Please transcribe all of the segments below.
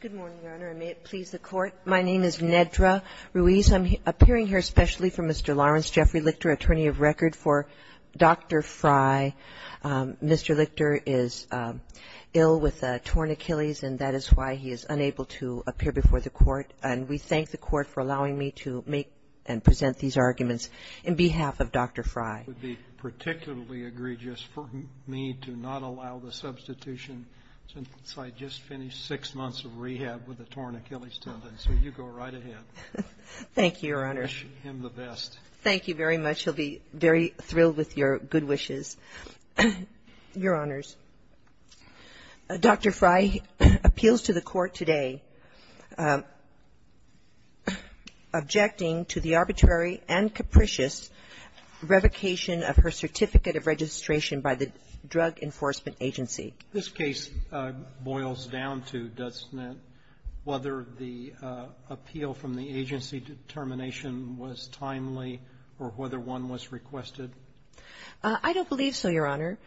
Good morning, Your Honor, and may it please the Court. My name is Nedra Ruiz. I'm appearing here especially for Mr. Lawrence Jeffrey Lichter, attorney of record for Dr. Fry. Mr. Lichter is ill with torn Achilles, and that is why he is unable to appear before the Court. And we thank the Court for the need to not allow the substitution since I just finished six months of rehab with a torn Achilles tendon. So you go right ahead. Thank you, Your Honor. Wish him the best. Thank you very much. He'll be very thrilled with your good wishes. Your Honors, Dr. Fry appeals to the Court today objecting to the arbitrary and capricious revocation of her Certificate of Registration by the Drug Enforcement Agency. This case boils down to, doesn't it, whether the appeal from the agency determination was timely or whether one was requested? I don't believe so, Your Honor.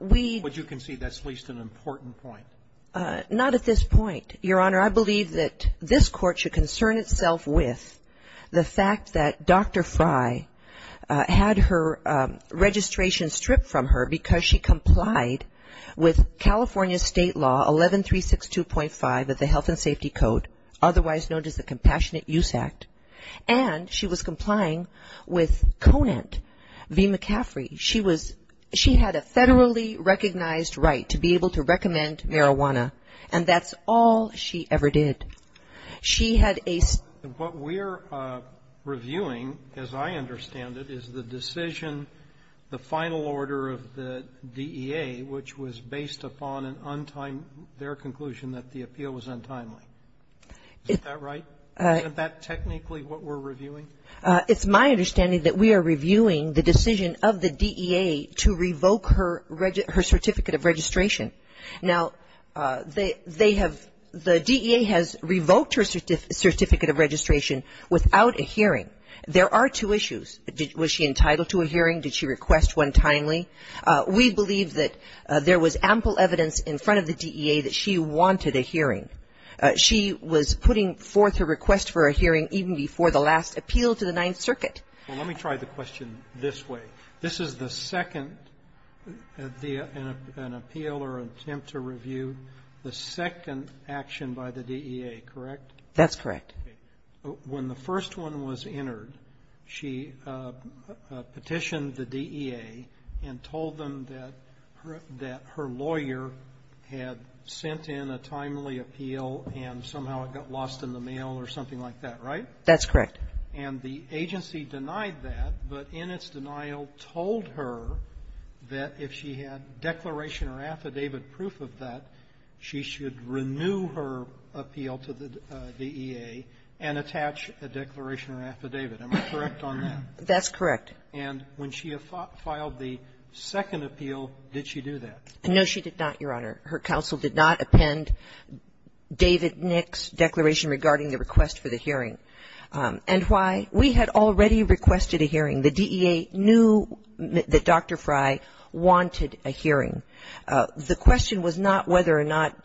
We But you concede that's at least an important point. Not at this point, Your Honor. I believe that this Court should concern itself with the fact that Dr. Fry had her registration stripped from her because she complied with California State Law 11362.5 of the Health and Safety Code, otherwise known as the Compassionate Use Act, and she was And that's all she ever did. She had a What we're reviewing, as I understand it, is the decision, the final order of the DEA, which was based upon an untimely their conclusion that the appeal was untimely. Is that right? Isn't that technically what we're reviewing? It's my understanding that we are reviewing the decision of the DEA to revoke her Certificate of Registration. Now, they have, the DEA has revoked her Certificate of Registration without a hearing. There are two issues. Was she entitled to a hearing? Did she request one timely? We believe that there was ample evidence in front of the DEA that she wanted a hearing. She was putting forth her request for a hearing even before the last appeal to the Ninth Circuit. Well, let me try the question this way. This is the second, an appeal or attempt to review, the second action by the DEA, correct? That's correct. When the first one was entered, she petitioned the DEA and told them that her lawyer had sent in a timely appeal and somehow it got lost in the mail or something like that, right? That's correct. And the agency denied that, but in its denial told her that if she had declaration or affidavit proof of that, she should renew her appeal to the DEA and attach a declaration or affidavit. Am I correct on that? That's correct. And when she filed the second appeal, did she do that? No, she did not, Your Honor. Her counsel did not append David Nick's declaration regarding the request for the hearing. And why? We had already requested a hearing. The DEA knew that Dr. Frey wanted a hearing. The question was not whether or not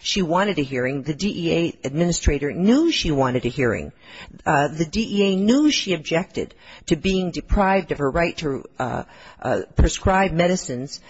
she wanted a hearing. The DEA administrator knew she wanted a hearing. The DEA knew she objected to being deprived of her right to prescribe medicines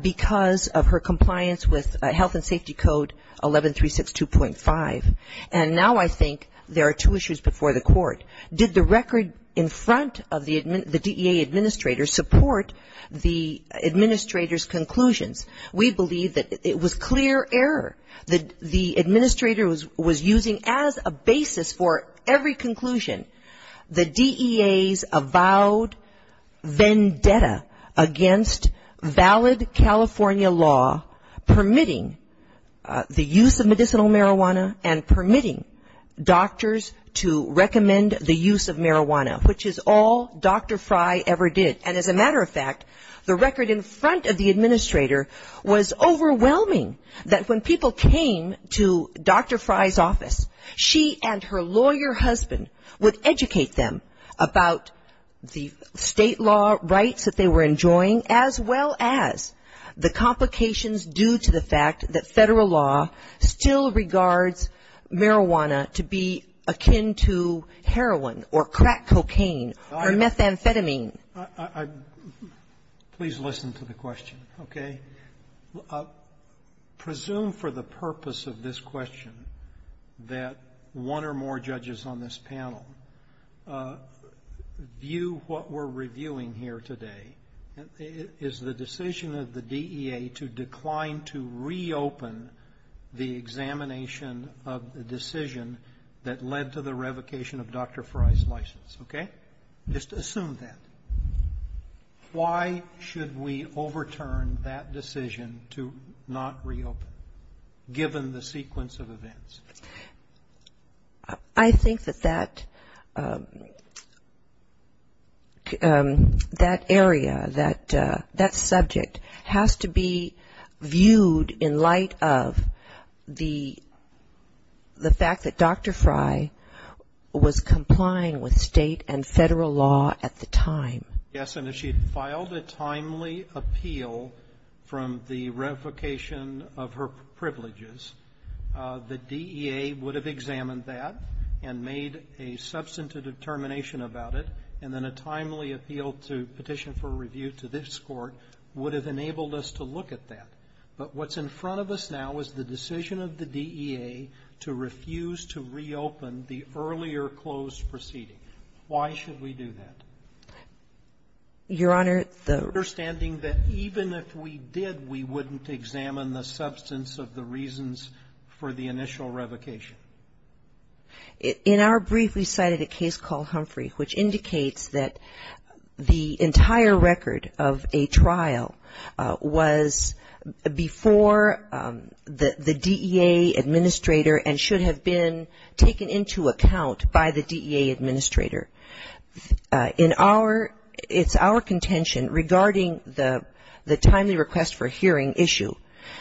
because of her compliance with Health and Safety Code 11362.5. And now I think there are two issues before the court. Did the record in front of the DEA administrator support the administrator's conclusions? We believe that it was clear error. The administrator was using as a basis for every conclusion the DEA's avowed vendetta against valid California law permitting the use of medicinal marijuana and permitting doctors to recommend the use of marijuana, which is all Dr. Frey ever did. And as a matter of fact, the record in front of the administrator was overwhelming that when people came to Dr. Frey's office, she and her lawyer husband would educate them about the state law rights that they were enjoying, as well as the complications due to the fact that federal law still regards marijuana to be akin to heroin or crack cocaine or methamphetamine. Please listen to the question, okay? Presume for the purpose of this question that one or more judges on this panel view what we're reviewing here today. Is the decision of the DEA to decline to reopen the examination of the decision that led to the revocation of Dr. Frey's license, okay? Just assume that. Why should we overturn that decision to not reopen, given the sequence of events? I think that that area, that subject has to be viewed in light of the fact that Dr. Frey was complying with state and federal law at the time. Yes, and if she had filed a timely appeal from the revocation of her privileges, the DEA would have examined that and made a substantive determination about it, and then a timely appeal to petition for review to this Court would have enabled us to look at that. But what's in front of us now is the decision of the DEA to refuse to reopen the earlier closed proceeding. Why should we do that? Your Honor, the Understanding that even if we did, we wouldn't examine the substance of the reasons for the initial revocation. In our brief, we cited a case called Humphrey, which indicates that the entire record of a trial was before the DEA administrator and should have been taken into account by the DEA administrator. In our ‑‑ it's our contention regarding the timely request for hearing issue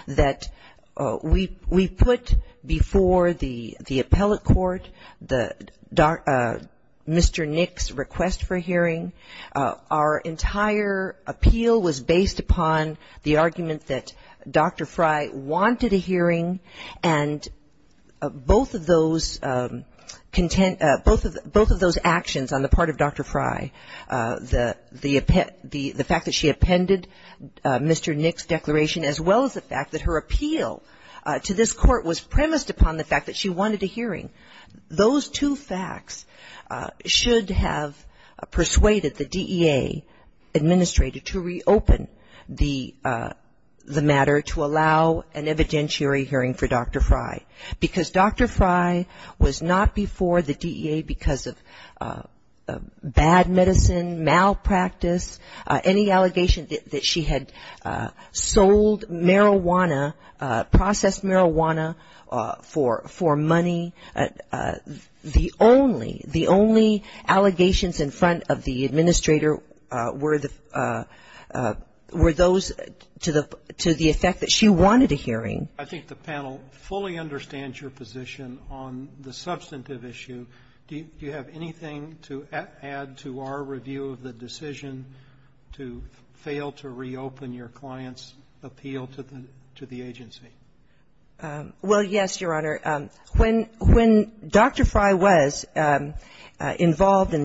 that we put before the appellate court Mr. Nick's request for hearing. Our entire appeal was based upon the argument that Dr. Frey wanted a hearing, and both of those actions on the part of Dr. Frey, the fact that she appended Mr. Nick's declaration, as well as the fact that her appeal to this Court was premised upon the fact that she wanted a hearing, those two facts should have persuaded the DEA administrator to reopen the matter to allow an evidentiary hearing for Dr. Frey. Because Dr. Frey was not before the DEA because of bad medicine, malpractice, any allegation that she had sold marijuana, processed marijuana for money, the only allegations in front of the administrator were those to the effect that she wanted a hearing. I think the panel fully understands your position on the substantive issue. Do you have anything to add to our review of the decision to fail to reopen your client's appeal to the agency? Well, yes, Your Honor. When Dr. Frey was involved in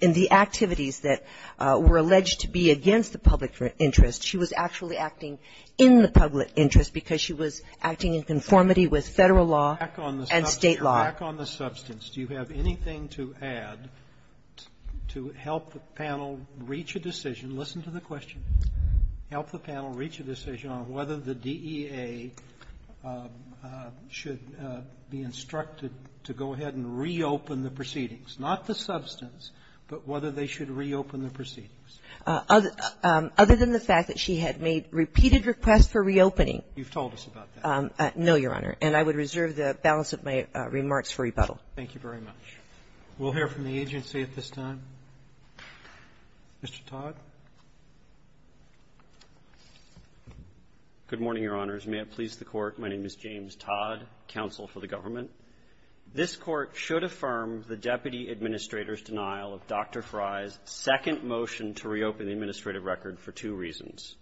the activities that were alleged to be against the public interest, she was actually acting in the public interest because she was acting in conformity with Federal law and State law. But back on the substance, do you have anything to add to help the panel reach a decision to listen to the question, help the panel reach a decision on whether the DEA should be instructed to go ahead and reopen the proceedings, not the substance, but whether they should reopen the proceedings? Other than the fact that she had made repeated requests for reopening. You've told us about that. No, Your Honor. And I would reserve the balance of my remarks for rebuttal. Thank you very much. We'll hear from the agency at this time. Mr. Todd. Good morning, Your Honors. May it please the Court. My name is James Todd, counsel for the government. This Court should affirm the deputy administrator's denial of Dr. Frey's second motion to reopen the administrative record for two reasons.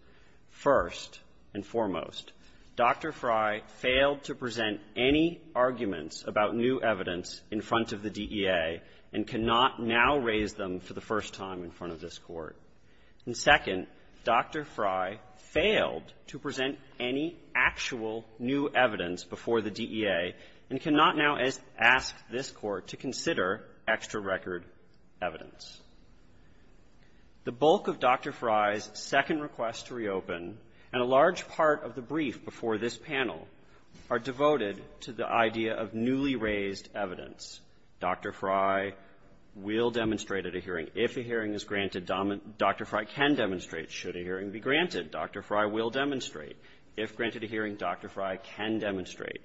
First and foremost, Dr. Frey failed to present any arguments about new evidence in front of the DEA, and cannot now raise them for the first time in front of this Court. And second, Dr. Frey failed to present any actual new evidence before the DEA and cannot now ask this Court to consider extra record evidence. The bulk of Dr. Frey's second request to reopen, and a large part of the brief before this panel, are devoted to the idea of newly raised evidence. Dr. Frey will demonstrate at a hearing. If a hearing is granted, Dr. Frey can demonstrate. Should a hearing be granted, Dr. Frey will demonstrate. If granted a hearing, Dr. Frey can demonstrate.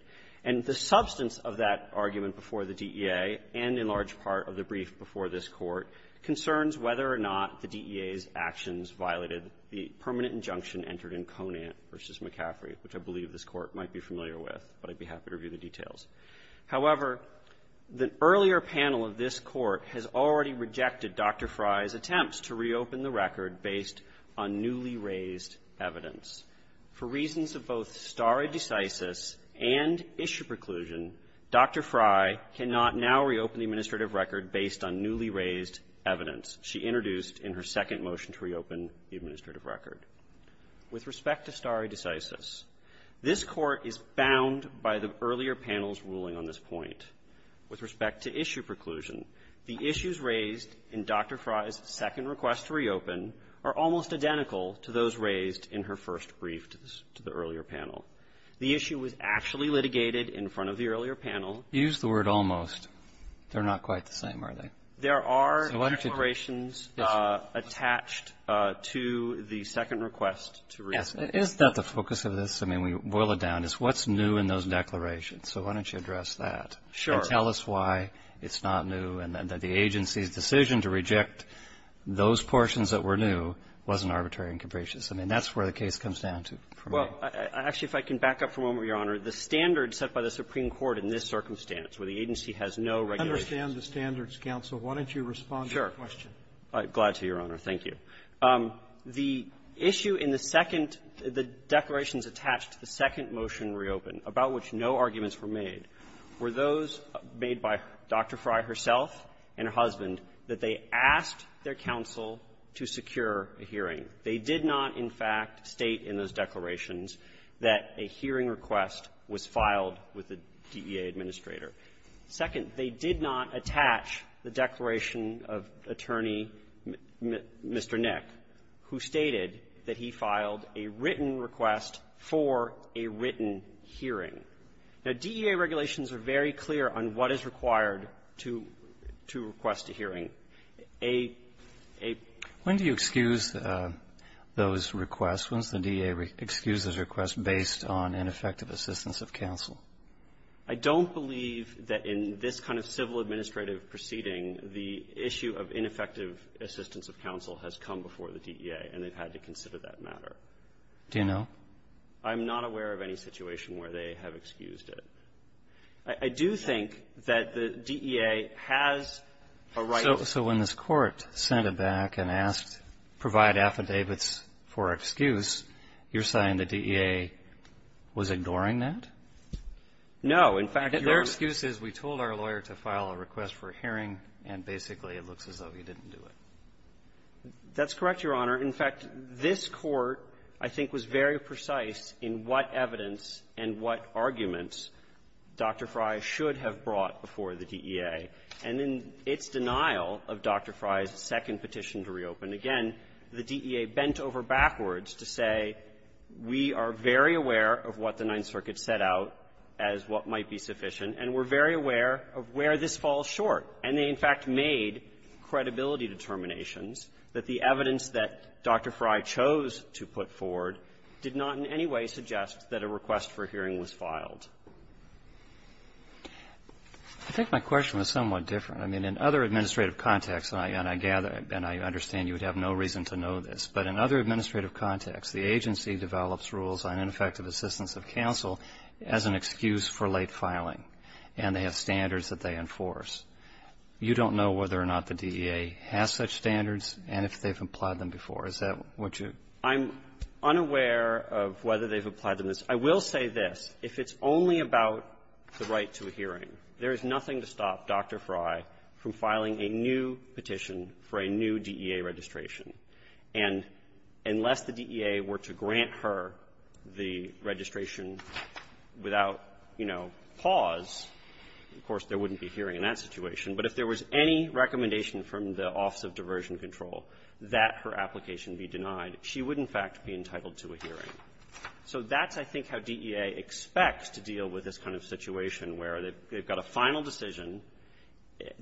And the substance of that argument before the DEA and a large part of the brief before this Court concerns whether or not the DEA's actions violated the permanent injunction entered in Conant v. McCaffrey, which I believe this Court might be familiar with, but I'd be happy to review the details. However, the earlier panel of this Court has already rejected Dr. Frey's attempts to reopen the record based on newly raised evidence. For reasons of both stare decisis and issue preclusion, Dr. Frey cannot now reopen the administrative record based on newly raised evidence she introduced in her second motion to reopen the administrative record. With respect to stare decisis, this Court is bound by the earlier panel's ruling on this point. With respect to issue preclusion, the issues raised in Dr. Frey's second request to reopen are almost identical to those raised in her first brief to the earlier panel. The issue was actually litigated in front of the earlier panel. Breyer. You used the word almost. They're not quite the same, are they? Feigin. There are declarations attached to the second request to reopen. Breyer. Is that the focus of this? I mean, we boil it down. It's what's new in those declarations. So why don't you address that? Feigin. Sure. Breyer. And tell us why it's not new and that the agency's decision to reject those portions that were new wasn't arbitrary and capricious. I mean, that's where the case comes down to for me. Feigin. Well, actually, if I can back up for a moment, Your Honor, the standards are set by the Supreme Court in this circumstance, where the agency has no regulations. Roberts. I understand the standards, counsel. Why don't you respond to the question? Feigin. Sure. I'm glad to, Your Honor. Thank you. The issue in the second the declarations attached to the second motion reopened, about which no arguments were made, were those made by Dr. Frey herself and her husband that they asked their counsel to secure a hearing. They did not, in fact, state in those declarations that a hearing request was filed with the DEA administrator. Second, they did not attach the declaration of Attorney Mr. Nick, who stated that he filed a written request for a written hearing. Now, DEA regulations are very clear on what is required to request a hearing. A ---- Roberts. When do you excuse those requests? When does the DEA excuse those requests based on ineffective assistance of counsel? Feigin. I don't believe that in this kind of civil administrative proceeding, the issue of ineffective assistance of counsel has come before the DEA, and they've had to consider that matter. Roberts. Do you know? Feigin. I'm not aware of any situation where they have excused it. I do think that the DEA has a right to do that. Roberts. So when this Court sent it back and asked, provide affidavits for excuse, your side in the DEA was ignoring that? Feigin. No. In fact, there was ---- Roberts. Your excuse is we told our lawyer to file a request for a hearing, and basically it looks as though he didn't do it. Feigin. That's correct, Your Honor. In fact, this Court, I think, was very precise in what evidence and what arguments Dr. Frey should have brought before the DEA. And in its denial of Dr. Frey's second petition to reopen, again, the DEA bent over backwards to say, we are very aware of what the Ninth Circuit set out as what might be sufficient, and we're very aware of where this falls short. And they, in fact, made credibility determinations that the evidence that Dr. Frey chose to put forward did not in any way suggest that a request for a hearing was filed. Roberts. I think my question is somewhat different. I mean, in other administrative contexts, and I gather and I understand you would have no reason to know this, but in other administrative contexts, the agency develops rules on ineffective assistance of counsel as an excuse for late filing, and they have standards that they enforce. You don't know whether or not the DEA has such standards and if they've applied them before. Is that what you're ---- I'm not aware of whether they've applied them. I will say this. If it's only about the right to a hearing, there is nothing to stop Dr. Frey from filing a new petition for a new DEA registration. And unless the DEA were to grant her the registration without, you know, pause, of course, there wouldn't be a hearing in that situation. But if there was any recommendation from the Office of Diversion Control that her application be denied, she would, in fact, be entitled to a hearing. So that's, I think, how DEA expects to deal with this kind of situation where they've got a final decision,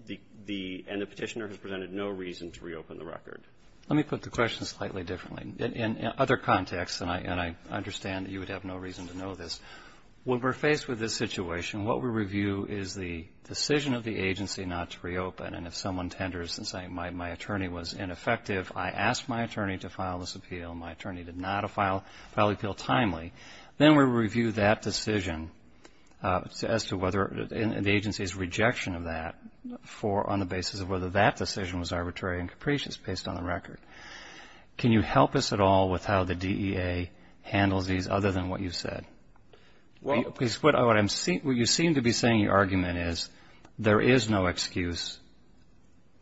the ---- and the Petitioner has presented no reason to reopen the record. Let me put the question slightly differently. In other contexts, and I understand that you would have no reason to know this, when we're faced with this situation, what we review is the decision of the agency not to reopen. And if someone tenders and says, my attorney was ineffective, I asked my attorney to file this appeal, my attorney did not file the appeal timely, then we review that decision as to whether the agency's rejection of that for on the basis of whether that decision was arbitrary and capricious based on the record. Can you help us at all with how the DEA handles these other than what you've said? Because what you seem to be saying in your argument is there is no excuse.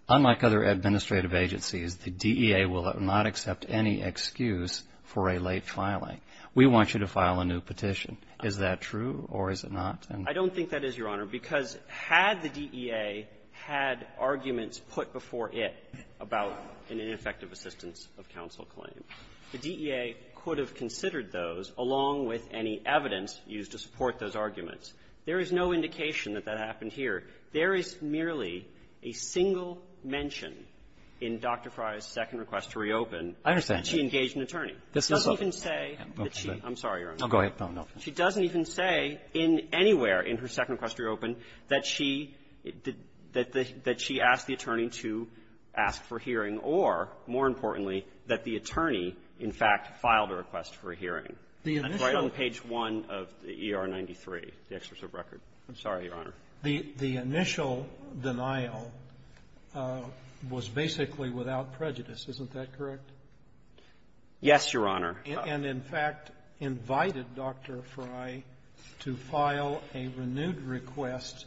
Unlike other administrative agencies, the DEA will not accept any excuse for a late filing. We want you to file a new petition. Is that true or is it not? I don't think that is, Your Honor, because had the DEA had arguments put before it about an ineffective assistance of counsel claim, the DEA could have considered those along with any evidence used to support those arguments. There is no indication that that happened here. There is merely a single mention in Dr. Frye's second request to reopen that she engaged an attorney. She doesn't even say that she – I'm sorry, Your Honor. She doesn't even say in anywhere in her second request to reopen that she – that she asked the attorney to ask for hearing or, more importantly, that the attorney, in fact, filed a request for a hearing. Right on page 1 of the ER-93, the excerpt of the record. I'm sorry, Your Honor. The initial denial was basically without prejudice. Isn't that correct? Yes, Your Honor. And, in fact, invited Dr. Frye to file a renewed request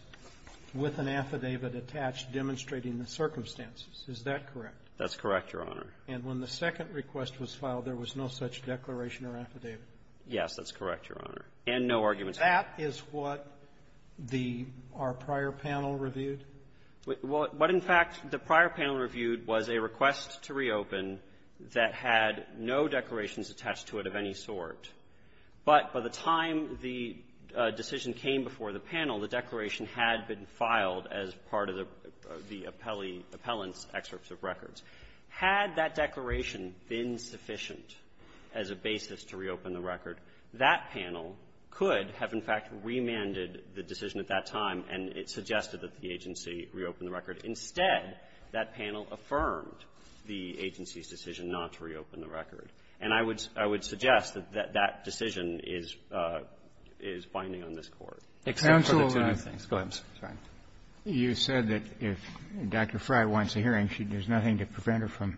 with an affidavit attached demonstrating the circumstances. Is that correct? That's correct, Your Honor. And when the second request was filed, there was no such declaration or affidavit? Yes, that's correct, Your Honor. And no arguments. That is what the – our prior panel reviewed? What, in fact, the prior panel reviewed was a request to reopen that had no declarations attached to it of any sort. But by the time the decision came before the panel, the declaration had been filed as part of the appellee – appellant's excerpts of records. Had that declaration been sufficient as a basis to reopen the record, that panel could have, in fact, remanded the decision at that time and it suggested that the agency reopen the record. Instead, that panel affirmed the agency's decision not to reopen the record. And I would – I would suggest that that decision is – is binding on this Court. Except for the two new things. Go ahead, I'm sorry. You said that if Dr. Frye wants a hearing, there's nothing to prevent her from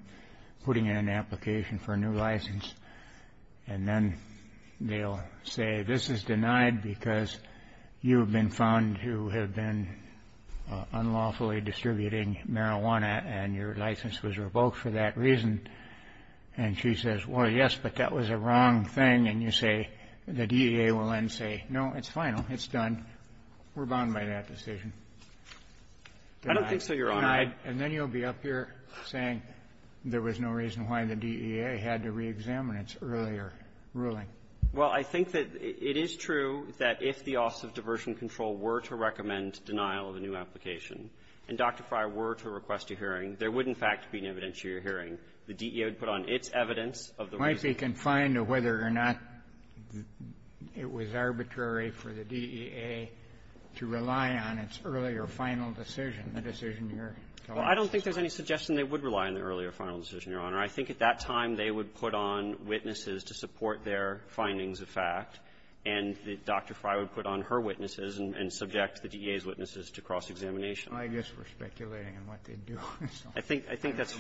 putting in an application for a new license, and then they'll say, this is denied because you have been found to have been unlawfully distributing marijuana and your license was revoked for that reason. And she says, well, yes, but that was a wrong thing. And you say – the DEA will then say, no, it's final, it's done, we're bound by that decision. Denied. Denied. I don't think so, Your Honor. And then you'll be up here saying there was no reason why the DEA had to reexamine its earlier ruling. Well, I think that it is true that if the Office of Diversion Control were to recommend denial of a new application, and Dr. Frye were to request a hearing, there would, in fact, be an evidentiary hearing. The DEA would put on its evidence of the reason. Might be confined to whether or not it was arbitrary for the DEA to rely on its earlier final decision, the decision you're talking about. Well, I don't think there's any suggestion they would rely on the earlier final decision, Your Honor. I think at that time, they would put on witnesses to support their findings of fact. And Dr. Frye would put on her witnesses and subject the DEA's witnesses to cross-examination. I guess we're speculating on what they'd do. I think that's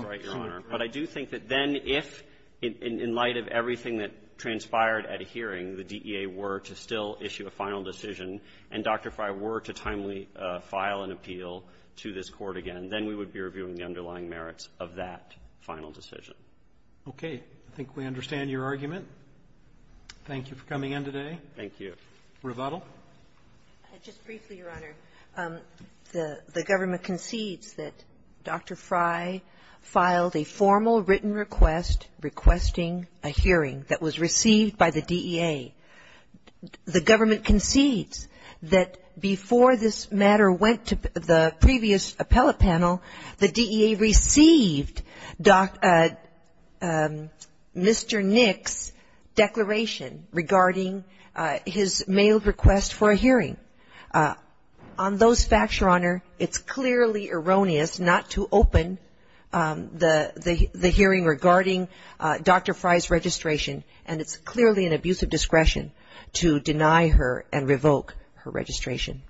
right, Your Honor. But I do think that then if, in light of everything that transpired at a hearing, the DEA were to still issue a final decision, and Dr. Frye were to timely file an appeal to this Court again, then we would be reviewing the underlying merits of that final decision. Okay. I think we understand your argument. Thank you for coming in today. Thank you. Revatel. Just briefly, Your Honor, the government concedes that Dr. Frye filed a formal written request requesting a hearing that was received by the DEA. The government concedes that before this matter went to the previous appellate panel, the DEA received Mr. Nick's declaration regarding his mailed request for a hearing. On those facts, Your Honor, it's clearly erroneous not to open the hearing regarding Dr. Frye's registration, and it's clearly an abuse of discretion to deny her and revoke her registration.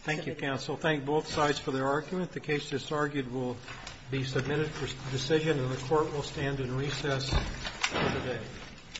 Thank you, counsel. Thank both sides for their argument. The case that's argued will be submitted for decision, and the Court will stand in recess for the day.